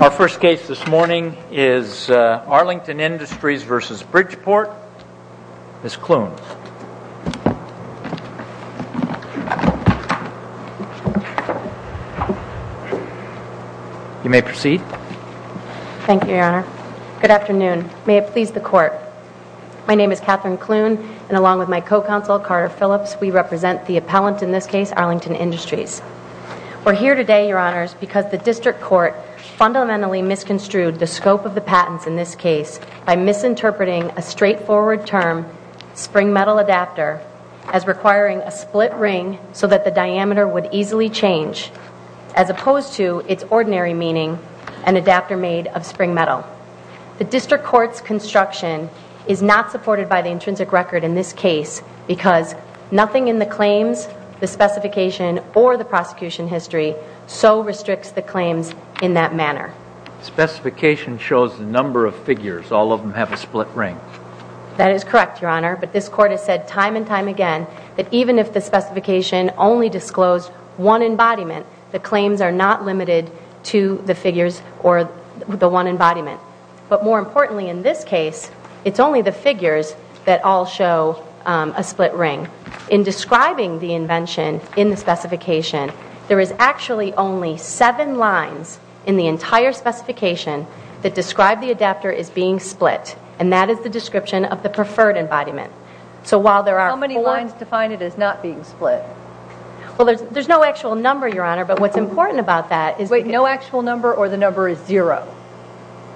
Our first case this morning is Arlington Industries v. Bridgeport. Ms. Kloon. You may proceed. Thank you, Your Honor. Good afternoon. May it please the Court. My name is Catherine Kloon, and along with my co-counsel, Carter Phillips, we represent the appellant in this case. We're here today, Your Honors, because the District Court fundamentally misconstrued the scope of the patents in this case by misinterpreting a straightforward term, spring metal adapter, as requiring a split ring so that the diameter would easily change, as opposed to its ordinary meaning, an adapter made of spring metal. The District Court's construction is not supported by the intrinsic record in this case because nothing in the claims, the specification, or the prosecution history so restricts the claims in that manner. Specification shows the number of figures. All of them have a split ring. That is correct, Your Honor, but this Court has said time and time again that even if the specification only disclosed one embodiment, the claims are not limited to the figures or the one embodiment. But more importantly in this case, it's only the figures that all show a split ring. In describing the invention in the specification, there is actually only seven lines in the entire specification that describe the adapter as being split, and that is the description of the preferred embodiment. So while there are four... How many lines define it as not being split? Well, there's no actual number, Your Honor, but what's important about that is... Wait, no actual number or the number is zero?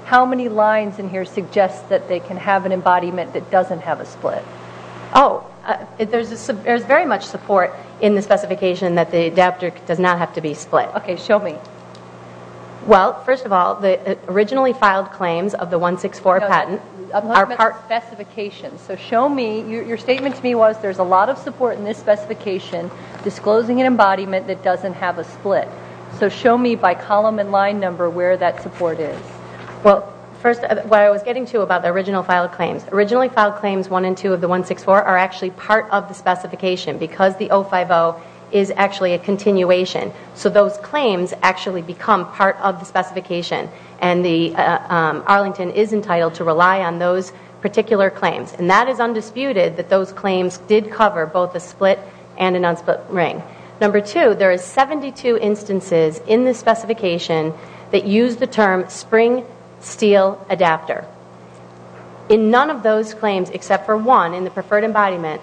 How many lines in here suggest that they can have an embodiment that doesn't have a split? Oh, there's very much support in the specification that the adapter does not have to be split. Okay, show me. Well, first of all, the originally filed claims of the 164 patent are part... No, I'm talking about the specification. So show me... Your statement to me was there's a lot of support in this specification disclosing an embodiment that doesn't have a split. So show me by column and line number where that support is. Well, first, what I was getting to about the original filed claims, originally filed claims one and two of the 164 are actually part of the specification because the 050 is actually a continuation. So those claims actually become part of the specification, and Arlington is entitled to rely on those particular claims. And that is undisputed that those claims did cover both a split and a non-split ring. Number two, there is 72 instances in the specification that use the term spring steel adapter. In none of those claims except for one in the preferred embodiment,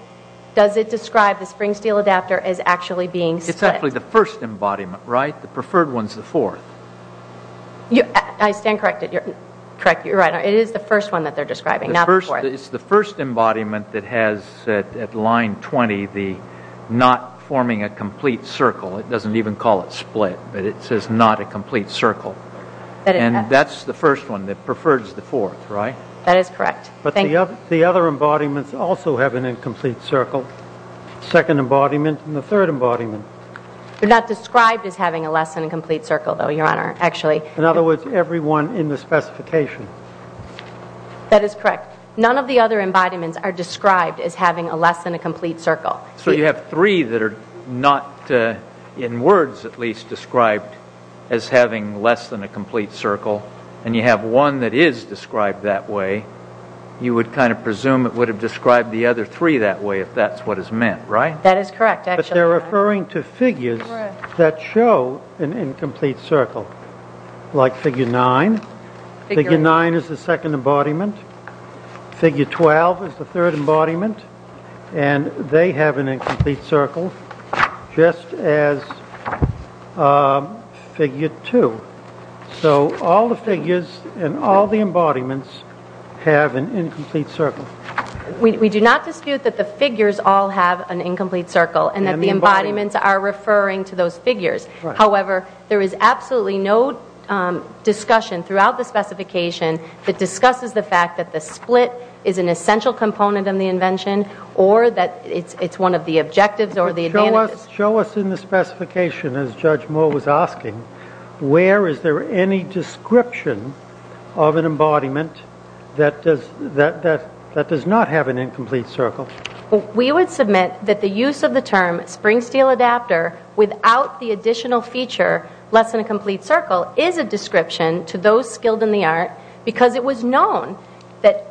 does it describe the spring steel adapter as actually being split? It's actually the first embodiment, right? The preferred one's the fourth. I stand corrected. You're right. It is the first one that they're describing, not the fourth. It's the first embodiment that has at line 20 the not forming a complete circle. It doesn't even call it split, but it says not a complete circle. And that's the first one that prefers the fourth, right? That is correct. But the other embodiments also have an incomplete circle, second embodiment and the third embodiment. They're not described as having a less than a complete circle though, Your Honor, actually. In other words, everyone in the specification. That is correct. None of the other embodiments are described as having a less than a complete circle. So you have three that are not, in words at least, described as having less than a complete circle. And you have one that is described that way. You would kind of presume it would have described the other three that way if that's what is meant, right? That is correct, actually, Your Honor. We do not dispute that the figures all have an incomplete circle and that the embodiments are referring to those figures. However, there is absolutely no discussion throughout the specification that discusses the fact that the split is an essential component of the invention or that it's one of the objectives or the advantages. Show us in the specification, as Judge Moore was asking, where is there any description of an embodiment that does not have an incomplete circle? We would submit that the use of the term spring steel adapter without the additional feature less than a complete circle is a description to those skilled in the art because it was known that,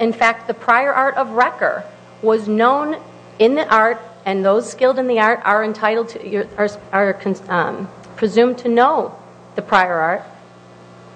in fact, the prior art of Wrecker was known in the art and those skilled in the art are presumed to know the prior art.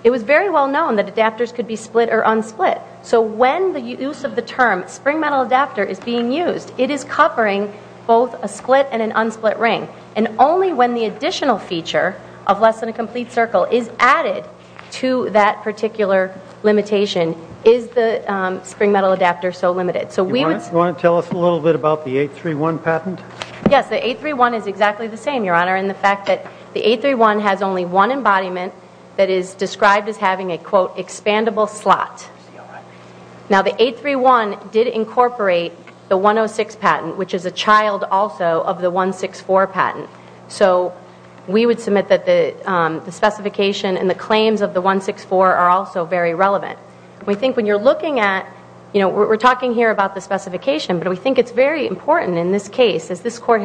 It was very well known that adapters could be split or unsplit. So when the use of the term spring metal adapter is being used, it is covering both a split and an unsplit ring. And only when the additional feature of less than a complete circle is added to that particular limitation is the spring metal adapter so limited. Do you want to tell us a little bit about the 831 patent? Yes, the 831 is exactly the same, Your Honor, in the fact that the 831 has only one embodiment that is described as having a, quote, expandable slot. Now the 831 did incorporate the 106 patent, which is a child also of the 164 patent. So we would submit that the specification and the claims of the 164 are also very relevant. We think when you're looking at, we're talking here about the specification, but we think it's very important in this case, as this claim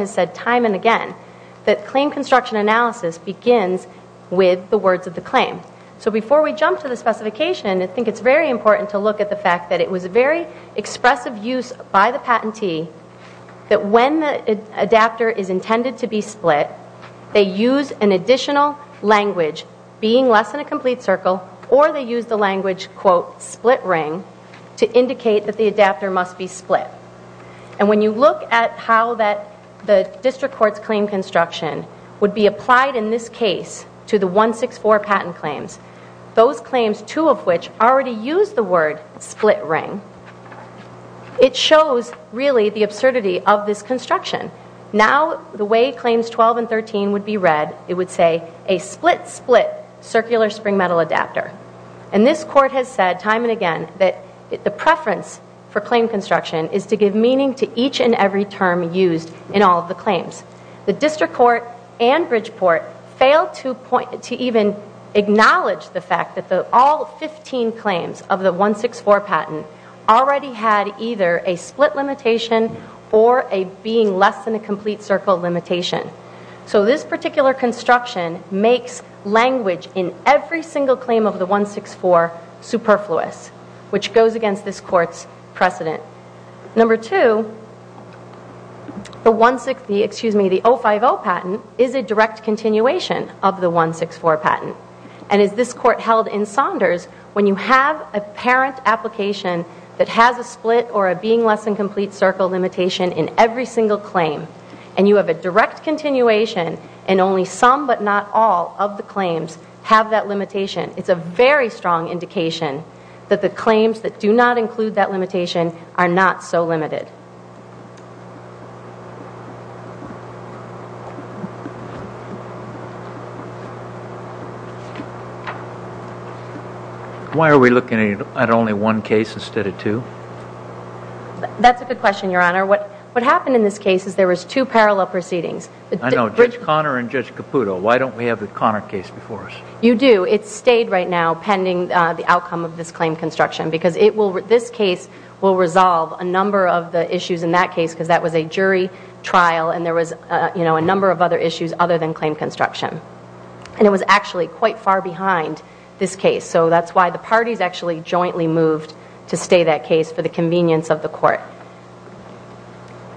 construction analysis begins with the words of the claim. So before we jump to the specification, I think it's very important to look at the fact that it was a very expressive use by the patentee that when the adapter is intended to be split, they use an additional language being less than a complete circle or they use the language, quote, split ring to indicate that the adapter must be split. And when you look at how the district court's claim construction would be applied in this case to the 164 patent claims, those claims, two of which already use the word split ring, it shows really the absurdity of this construction. Now the way claims 12 and 13 would be read, it would say a split, split circular spring metal adapter. And this court has said time and again that the preference for claim construction is to give meaning to each and every term used in all of the claims. The district court and Bridgeport failed to even acknowledge the fact that all 15 claims of the 164 patent already had either a split limitation or a being less than a complete circle limitation. So this particular construction makes language in every single claim of the 164 superfluous, which goes against this court's precedent. Number two, the 050 patent is a direct continuation of the 164 patent. And as this court held in Saunders, when you have a parent application that has a split or a being less than complete circle limitation in every single claim, and you have a direct continuation in only some but not all of the claims have that limitation, it's a very strong indication that the claims that do not include that limitation are not so limited. Why are we looking at only one case instead of two? That's a good question, Your Honor. What happened in this case is there was two parallel proceedings. I know, Judge Connor and Judge Caputo. Why don't we have the Connor case before us? You do. It stayed right now pending the outcome of this claim construction because this case will resolve a number of the issues in that case because that was a jury trial and there was a number of other issues other than claim construction. And it was actually quite far behind this case. So that's why the parties actually jointly moved to stay that case for the convenience of the court.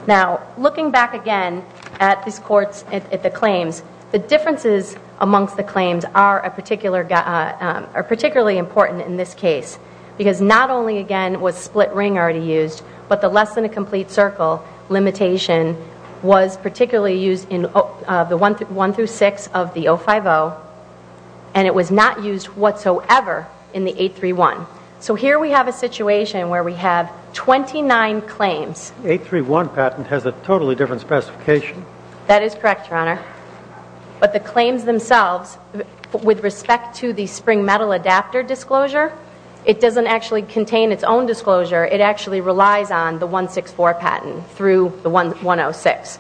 Now, looking back again at these courts, at the claims, the differences amongst the claims are particularly important in this case because not only again was split ring already used, but the less than a complete circle limitation was particularly used in the one through six of the 050 and it was not used whatsoever in the 831. So here we have a situation where we have 29 claims. The 831 patent has a totally different specification. That is correct, Your Honor. But the claims themselves with respect to the spring metal adapter disclosure, it doesn't actually contain its own disclosure. It actually relies on the 164 patent through the 106.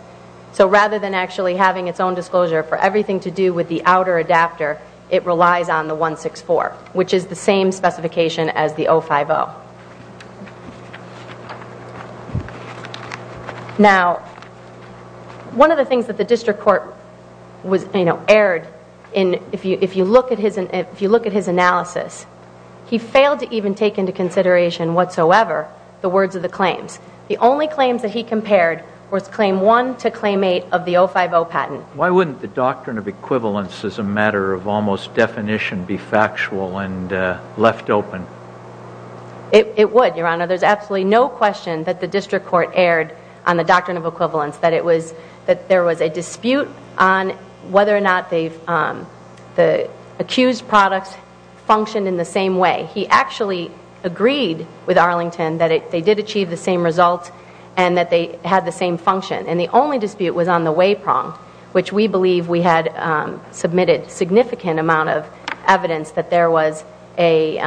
So rather than actually having its own disclosure for everything to do with the outer adapter, it relies on the 164, which is the same specification as the 050. Now, one of the things that the district court was, you know, erred in, if you look at his analysis, he failed to even take into consideration whatsoever the words of the claims. The only claims that he compared was claim one to claim eight of the 050 patent. Why wouldn't the doctrine of equivalence as a matter of almost definition be factual and left open? It would, Your Honor. There's absolutely no question that the district court erred on the doctrine of equivalence, that there was a dispute on whether or not the accused products functioned in the same way. He actually agreed with Arlington that they did achieve the same results and that they had the same function. And the only dispute was on the way prong, which we believe we had submitted significant amount of evidence that there was a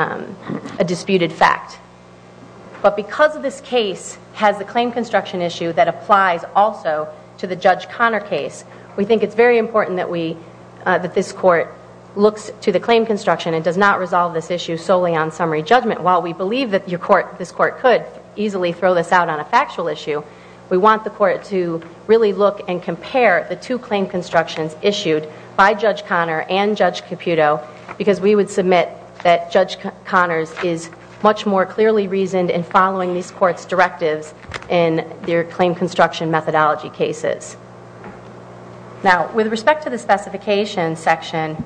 disputed fact. But because of this case has the claim construction issue that applies also to the Judge Connor case, we think it's very important that this court looks to the claim construction and does not resolve this issue solely on summary judgment. While we believe that this court could easily throw this out on a factual issue, we want the court to really look and compare the two claim constructions issued by Judge Connor and Judge Caputo because we would submit that Judge Connor's is much more clearly reasoned in following these court's directives in their claim construction methodology cases. Now with respect to the specification section,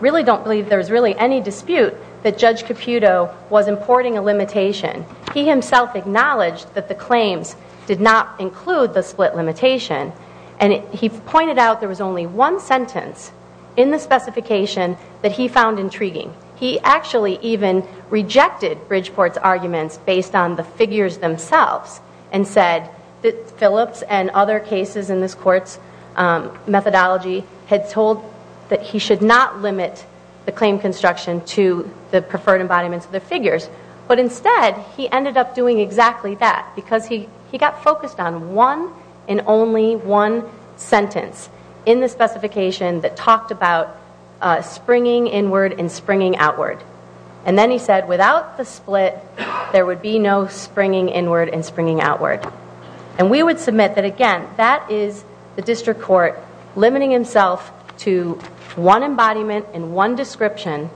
really don't believe there's really any dispute that Judge Caputo was importing a limitation. He himself acknowledged that the claims did not include the split limitation. And he pointed out there was only one sentence in the specification that he found intriguing. He actually even rejected Bridgeport's arguments based on the figures themselves and said that Phillips and other cases in this court's methodology had told that he should not limit the claim construction to the preferred embodiments of the figures. But instead, he ended up doing exactly that because he got focused on one and only one sentence in the specification that talked about springing inward and springing outward. And then he said without the split, there would be no springing inward and springing outward. And we would submit that again, that is the district court limiting himself to one embodiment and one description.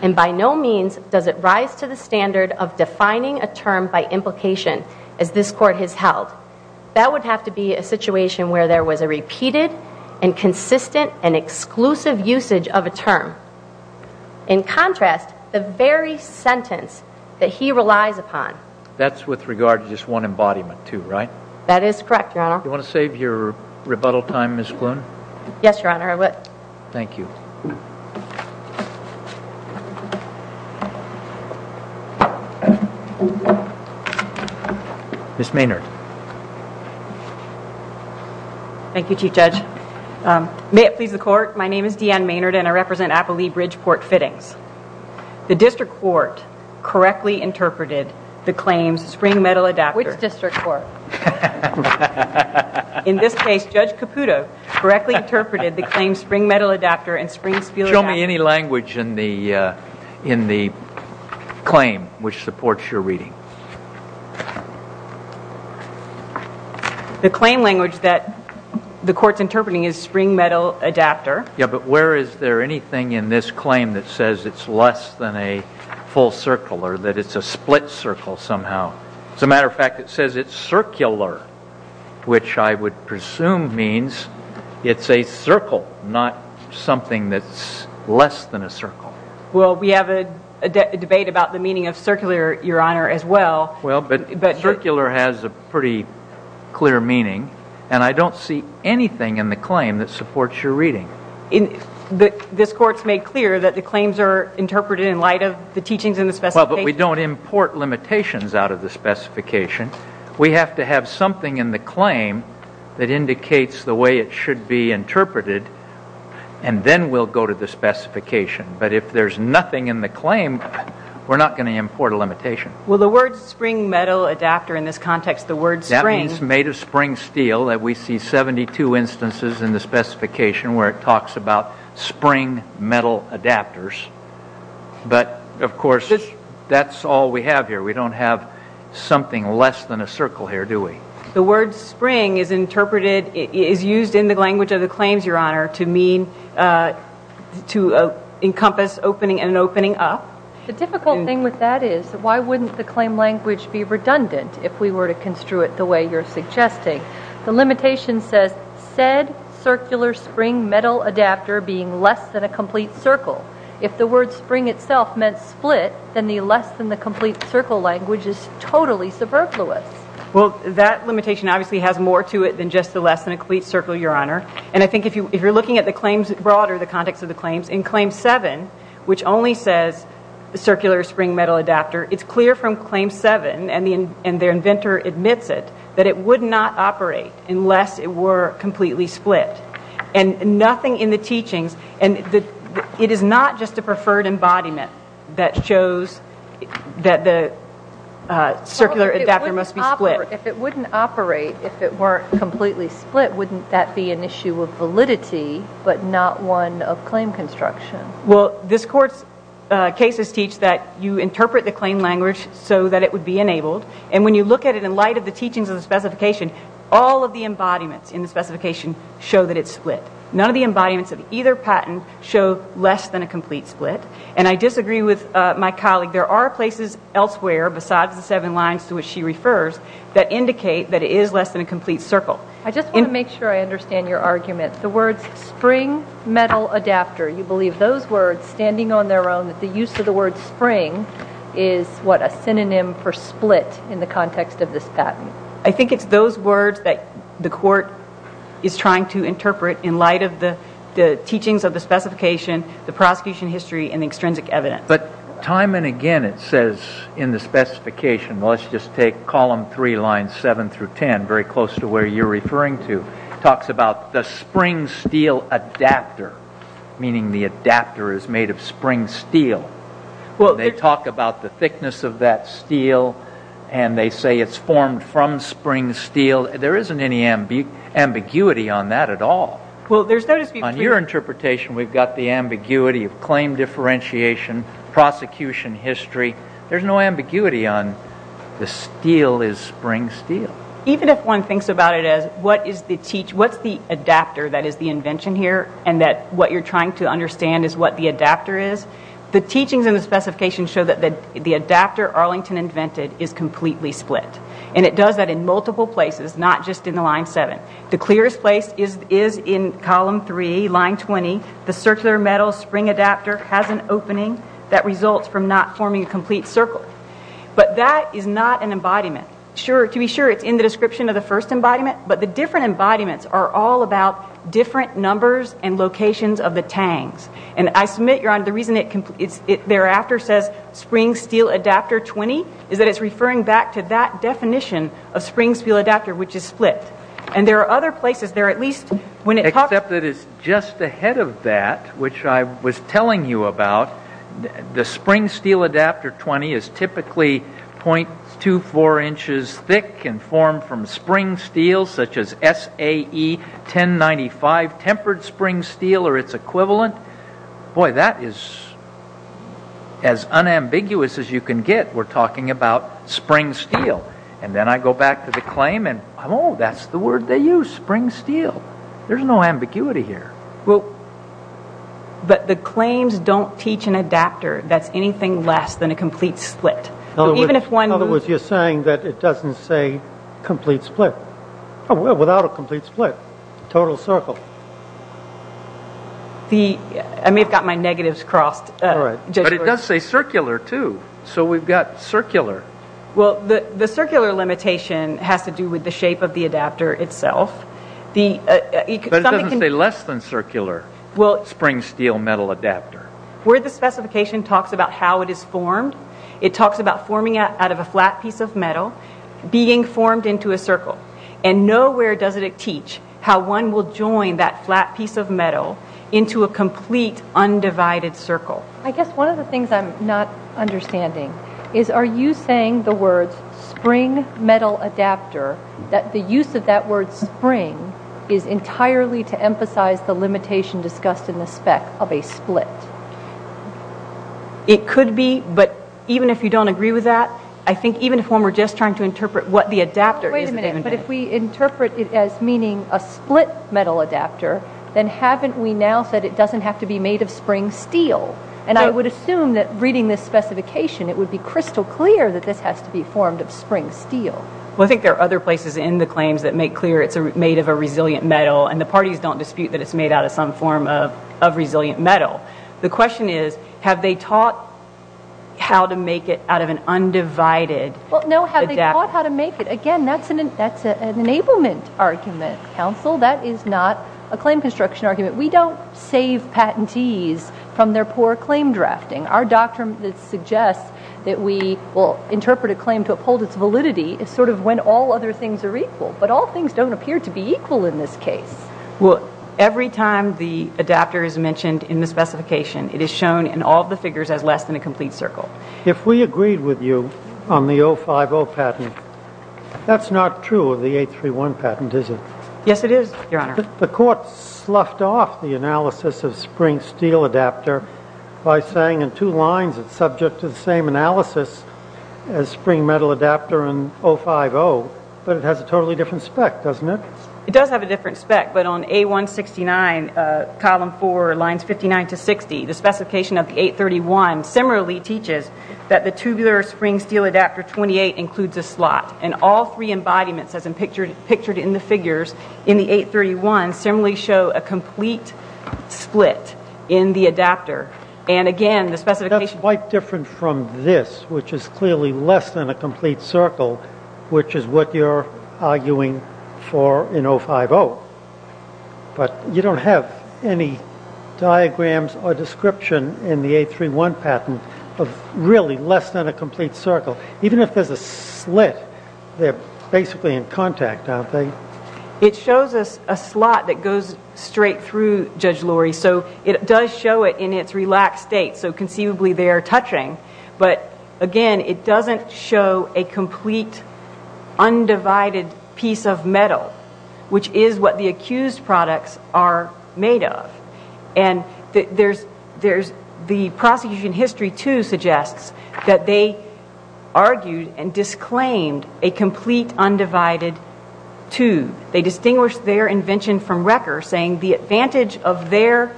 And by no means does it rise to the standard of defining a term by implication as this court has held. That would have to be a situation where there was a repeated and consistent and exclusive usage of a term. In contrast, the very sentence that he relies upon. That's with regard to just one embodiment too, right? That is correct, Your Honor. Do you want to save your rebuttal time, Ms. Kloon? Yes, Your Honor, I would. Thank you. Ms. Maynard. Thank you, Chief Judge. May it please the court, my name is Deanne Maynard and I represent Appalee Bridgeport Fittings. The district court correctly interpreted the claims spring metal adapter. Which district court? In this case, Judge Caputo correctly interpreted the claims spring metal adapter and spring spiel adapter. Show me any language in the claim which supports your reading. The claim language that the court's interpreting is spring metal adapter. Yeah, but where is there anything in this claim that says it's less than a full circle or that it's a split circle somehow? As a matter of fact, it says it's circular, which I would presume means it's a circle, not something that's less than a circle. Well, we have a debate about the meaning of circular, Your Honor, as well. Well, but circular has a pretty clear meaning and I don't see anything in the claim that supports your reading. This court's made clear that the claims are interpreted in light of the teachings Well, but we don't import limitations out of the specification. We have to have something in the claim that indicates the way it should be interpreted and then we'll go to the specification. But if there's nothing in the claim, we're not going to import a limitation. Well, the word spring metal adapter in this context, the word spring That means made of spring steel. We see 72 instances in the specification where it talks about spring metal adapters. But, of course, that's all we have here. We don't have something less than a circle here, do we? The word spring is interpreted, is used in the language of the claims, Your Honor, to encompass an opening up. The difficult thing with that is why wouldn't the claim language be redundant if we were to construe it the way you're suggesting? The limitation says, said circular spring metal adapter being less than a complete circle. If the word spring itself meant split, then the less than the complete circle language is totally superfluous. Well, that limitation obviously has more to it than just the less than a complete circle, Your Honor. And I think if you're looking at the claims broader, the context of the claims, in claim 7, which only says circular spring metal adapter, it's clear from claim 7, and the inventor admits it, that it would not operate unless it were completely split. And nothing in the teachings, and it is not just a preferred embodiment that shows that the circular adapter must be split. If it wouldn't operate if it weren't completely split, wouldn't that be an issue of validity, but not one of claim construction? Well, this Court's cases teach that you interpret the claim language so that it would be enabled. And when you look at it in light of the teachings of the specification, all of the embodiments in the specification show that it's split. None of the embodiments of either patent show less than a complete split. And I disagree with my colleague. There are places elsewhere, besides the seven lines to which she refers, that indicate that it is less than a complete circle. I just want to make sure I understand your argument. The words spring metal adapter, you believe those words, standing on their own, that the use of the word spring is what a synonym for split in the context of this patent. I think it's those words that the Court is trying to interpret in light of the teachings of the specification, the prosecution history, and the extrinsic evidence. But time and again it says in the specification, let's just take column three, lines seven through ten, very close to where you're referring to, talks about the spring steel adapter, meaning the adapter is made of spring steel. They talk about the thickness of that steel, and they say it's formed from spring steel. There isn't any ambiguity on that at all. On your interpretation, we've got the ambiguity of claim differentiation, prosecution history. There's no ambiguity on the steel is spring steel. Even if one thinks about it as, what's the adapter that is the invention here, and that what you're trying to understand is what the adapter is, the teachings in the specification show that the adapter Arlington invented is completely split. And it does that in multiple places, not just in the line seven. The clearest place is in column three, line 20, the circular metal spring adapter has an opening that results from not forming a complete circle. But that is not an embodiment. To be sure, it's in the description of the first embodiment, but the different embodiments are all about different numbers and locations of the tangs. And I submit, Your Honor, the reason it thereafter says spring steel adapter 20 is that it's referring back to that definition of spring steel adapter, which is split. And there are other places, there are at least... Except that it's just ahead of that, which I was telling you about. The spring steel adapter 20 is typically .24 inches thick and formed from spring steel such as SAE 1095, tempered spring steel or its equivalent. Boy, that is as unambiguous as you can get, we're talking about spring steel. And then I go back to the claim and, oh, that's the word they use, spring steel. There's no ambiguity here. Well, but the claims don't teach an adapter that's anything less than a complete split. In other words, you're saying that it doesn't say complete split. Oh, well, without a complete split, total circle. I may have got my negatives crossed. But it does say circular, too. So we've got circular. Well, the circular limitation has to do with the shape of the adapter itself. But it doesn't say less than circular spring steel metal adapter. Where the specification talks about how it is formed, it talks about forming out of a flat piece of metal, being formed into a circle. And nowhere does it teach how one will join that flat piece of metal into a complete undivided circle. I guess one of the things I'm not understanding is are you saying the words spring metal adapter, that the use of that word spring is entirely to emphasize the limitation discussed in the spec of a split? It could be, but even if you don't agree with that, I think even if we're just trying to interpret what the adapter is... Wait a minute, but if we interpret it as meaning a split metal adapter, then haven't we now said it doesn't have to be made of spring steel? And I would assume that reading this specification, it would be crystal clear that this has to be formed of spring steel. Well, I think there are other places in the claims that make clear it's made of a resilient metal, and the parties don't dispute that it's made out of some form of resilient metal. The question is, have they taught how to make it out of an undivided adapter? Well, no, have they taught how to make it? Again, that's an enablement argument, counsel. That is not a claim construction argument. We don't save patentees from their poor claim drafting. Our doctrine that suggests that we will interpret a claim to uphold its validity is sort of when all other things are equal. But all things don't appear to be equal in this case. Well, every time the adapter is mentioned in the specification, it is shown in all the figures as less than a complete circle. If we agreed with you on the 050 patent, that's not true of the 831 patent, is it? Yes, it is, Your Honor. The court sloughed off the analysis of spring steel adapter by saying in two lines it's subject to the same analysis as spring metal adapter and 050, but it has a totally different spec, doesn't it? It does have a different spec, but on A169, column 4, lines 59 to 60, the specification of the 831 similarly teaches that the tubular spring steel adapter 28 includes a slot. And all three embodiments, as pictured in the figures in the 831, similarly show a complete split in the adapter. And again, the specification... That's quite different from this, which is clearly less than a complete circle, which is what you're arguing for in 050. But you don't have any diagrams or description in the 831 patent of really less than a complete circle. Even if there's a slit, they're basically in contact, aren't they? It shows us a slot that goes straight through, Judge Lurie, so it does show it in its relaxed state, so conceivably they are touching. But again, it doesn't show a complete undivided piece of metal, which is what the accused products are made of. And the prosecution history too suggests that they argued and disclaimed a complete undivided tube. They distinguished their invention from Recker's, saying the advantage of their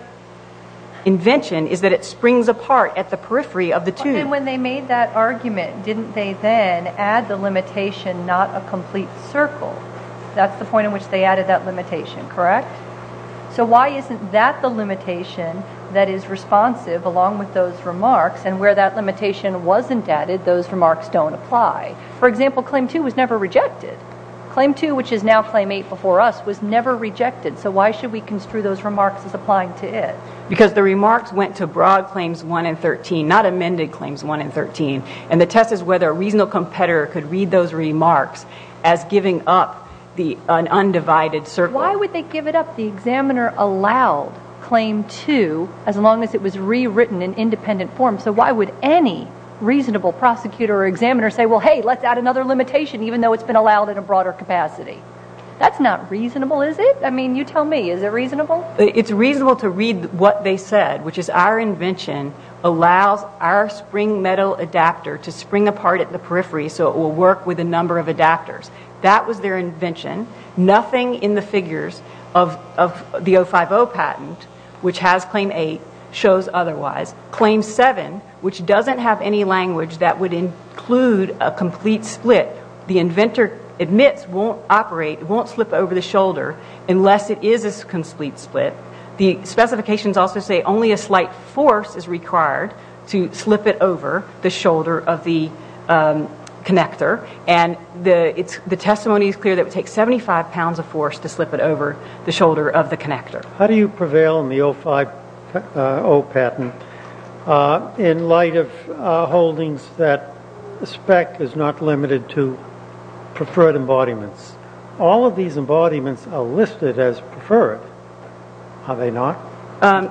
invention is that it springs apart at the periphery of the tube. And when they made that argument, didn't they then add the limitation, not a complete circle? That's the point at which they added that limitation, correct? So why isn't that the limitation that is responsive along with those remarks? And where that limitation wasn't added, those remarks don't apply. For example, Claim 2 was never rejected. Claim 2, which is now Claim 8 before us, was never rejected. So why should we construe those remarks as applying to it? Because the remarks went to broad Claims 1 and 13, not amended Claims 1 and 13. And the test is whether a reasonable competitor could read those remarks as giving up an undivided circle. Why would they give it up? The examiner allowed Claim 2, as long as it was rewritten in independent form. So why would any reasonable prosecutor or examiner say, well, hey, let's add another limitation, even though it's been allowed in a broader capacity? That's not reasonable, is it? I mean, you tell me, is it reasonable? It's reasonable to read what they said, which is our invention allows our spring metal adapter to spring apart at the periphery, so it will work with a number of adapters. That was their invention. Nothing in the figures of the 050 patent, which has Claim 8, shows otherwise. Claim 7, which doesn't have any language that would include a complete split, the inventor admits won't operate, won't slip over the shoulder, unless it is a complete split. The specifications also say only a slight force is required to slip it over the shoulder of the connector, and the testimony is clear that it would take 75 pounds of force to slip it over the shoulder of the connector. How do you prevail in the 050 patent in light of holdings that the spec is not limited to preferred embodiments? All of these embodiments are listed as preferred. Are they not?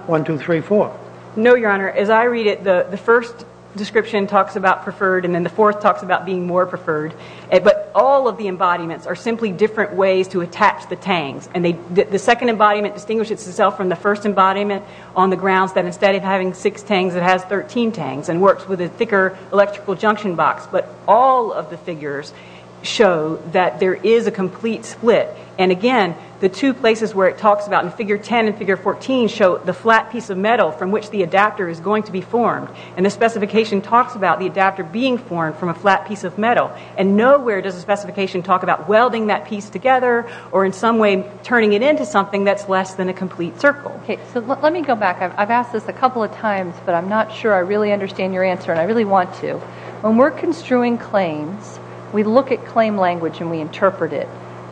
One, two, three, four. No, Your Honor, as I read it, the first description talks about preferred, and then the fourth talks about being more preferred. But all of the embodiments are simply different ways to attach the tangs. The second embodiment distinguishes itself from the first embodiment on the grounds that instead of having six tangs, it has 13 tangs, and works with a thicker electrical junction box. But all of the figures show that there is a complete split. And again, the two places where it talks about, in figure 10 and figure 14, show the flat piece of metal from which the adapter is going to be formed. And the specification talks about the adapter being formed from a flat piece of metal. And nowhere does the specification talk about welding that piece together, or in some way turning it into something that's less than a complete circle. Okay, so let me go back. I've asked this a couple of times, but I'm not sure I really understand your answer, and I really want to. When we're construing claims, we look at claim language and we interpret it.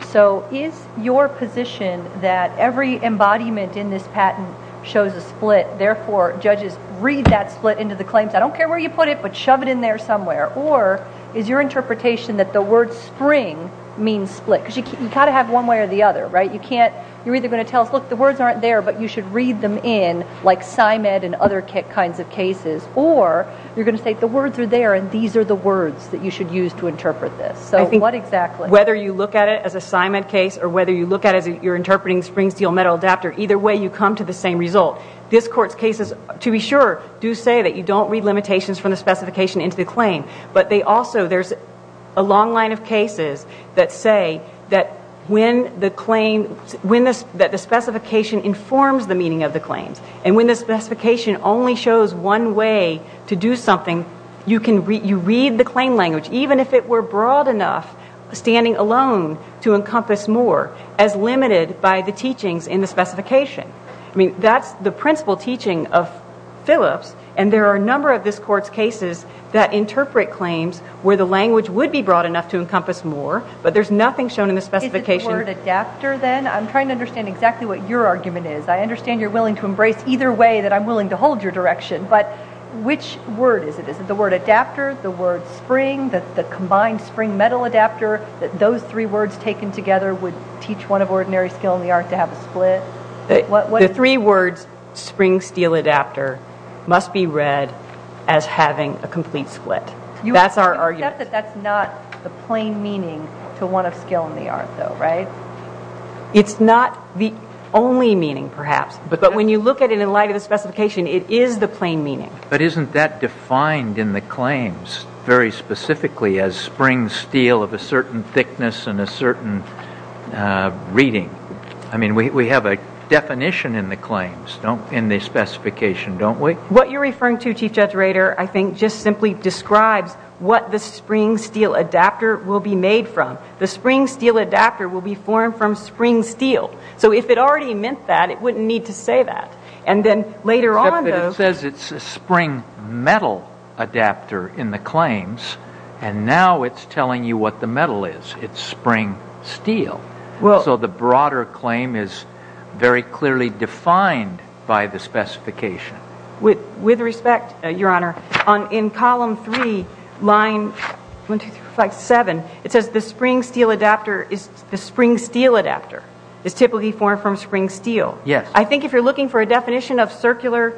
So is your position that every embodiment in this patent shows a split, therefore judges read that split into the claims? I don't care where you put it, but shove it in there somewhere. Or is your interpretation that the word spring means split? Because you kind of have one way or the other, right? You're either going to tell us, look, the words aren't there, but you should read them in, like SIMED and other kinds of cases, or you're going to say the words are there and these are the words that you should use to interpret this. Whether you look at it as a SIMED case or whether you look at it as you're interpreting spring steel metal adapter, either way you come to the same result. This Court's cases, to be sure, do say that you don't read limitations from the specification into the claim. But there's also a long line of cases that say that when the claim, that the specification informs the meaning of the claims. And when the specification only shows one way to do something, you read the claim language, even if it were broad enough, standing alone, to encompass more, as limited by the teachings in the specification. That's the principal teaching of Phillips, and there are a number of this Court's cases that interpret claims where the language would be broad enough to encompass more, but there's nothing shown Is it the word adapter then? I'm trying to understand exactly what your argument is. I understand you're willing to embrace either way that I'm willing to hold your direction, but which word is it? Is it the word adapter, the word spring, the combined spring metal adapter, that those three words taken together would teach one of ordinary skill in the art to have a split? The three words spring steel adapter must be read as having a complete split. That's our argument. Except that that's not the plain meaning to one of skill in the art, though, right? It's not the only meaning, perhaps, but when you look at it in light of the specification, it is the plain meaning. But isn't that defined in the claims very specifically as spring steel of a certain thickness and a certain reading? I mean, we have a definition in the claims, in the specification, don't we? What you're referring to, Chief Judge Rader, I think, just simply describes what the spring steel adapter will be made from. The spring steel adapter will be formed from spring steel. So if it already meant that, it wouldn't need to say that. Except that it says it's a spring metal adapter in the claims, and now it's telling you what the metal is. It's spring steel. So the broader claim is very clearly defined by the specification. With respect, Your Honor, in column 3, line 7, it says the spring steel adapter is the spring steel adapter is typically formed from spring steel. I think if you're looking for a definition of circular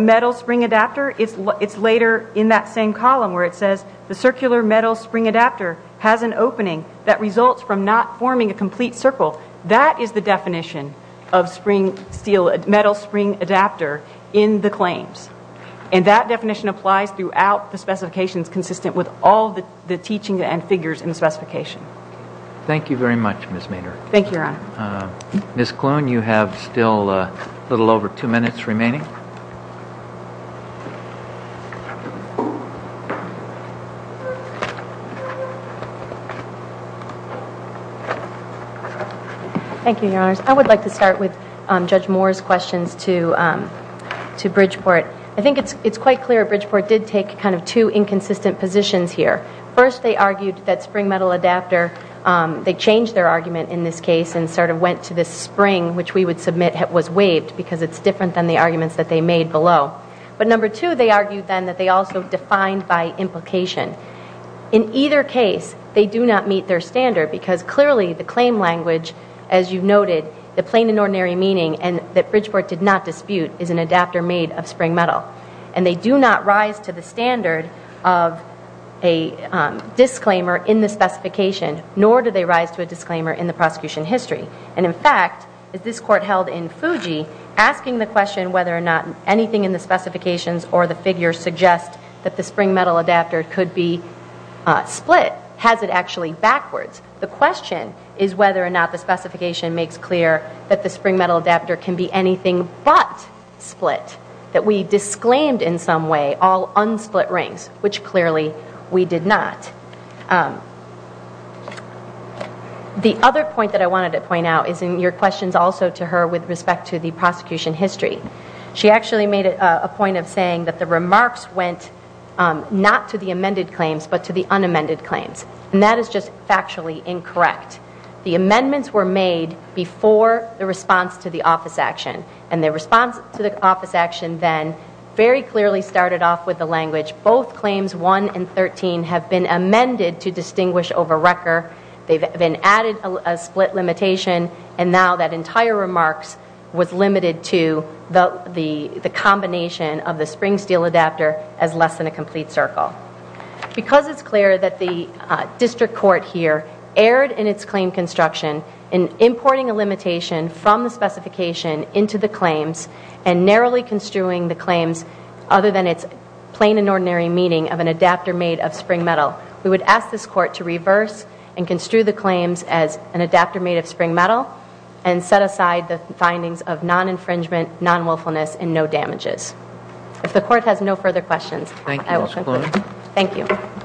metal spring adapter, it's later in that same column where it says the circular metal spring adapter has an opening that results from not forming a complete circle. That is the definition of spring steel, metal spring adapter in the claims. And that definition applies throughout the specifications consistent with all the teaching and figures in the specification. Thank you very much, Ms. Maynard. Ms. Kloon, you have still a little over two minutes remaining. Thank you, Your Honors. I would like to start with Judge Moore's questions to Bridgeport. I think it's quite clear Bridgeport did take kind of two inconsistent positions here. First, they argued that spring metal adapter, they changed their argument in this case and sort of went to this spring, which we would submit was waived because it's different than the arguments that they made below. But number two, they argued then that they also defined by implication. In either case, they do not meet their standard because clearly the plain and ordinary meaning that Bridgeport did not dispute is an adapter made of spring metal. And they do not rise to the standard of a disclaimer in the specification, nor do they rise to a disclaimer in the prosecution history. And in fact, this court held in Fuji asking the question whether or not anything in the specifications or the figures suggest that the spring metal adapter could be split. Has it actually backwards? The question is whether or not the specification makes clear that the spring metal adapter can be anything but split. That we disclaimed in some way all unsplit rings, which clearly we did not. The other point that I wanted to point out is in your questions also to her with respect to the prosecution history. She actually made a point of saying that the remarks went not to the amended claims, but to the unamended claims. And that is just factually incorrect. The amendments were made before the response to the office action. And the response to the office action then very clearly started off with the language both claims 1 and 13 have been amended to distinguish over record. They've been added a split limitation and now that entire remark was limited to the combination of the spring steel adapter as less than a complete circle. Because it's clear that the district court here erred in its claim construction in importing a limitation from the specification into the claims and narrowly construing the claims other than its plain and ordinary meaning of an adapter made of spring metal. We would ask this court to reverse and construe the claims as an adapter made of spring metal and set aside the findings of non-infringement non-wilfulness and no damages. If the court has no further questions Thank you. Thank you.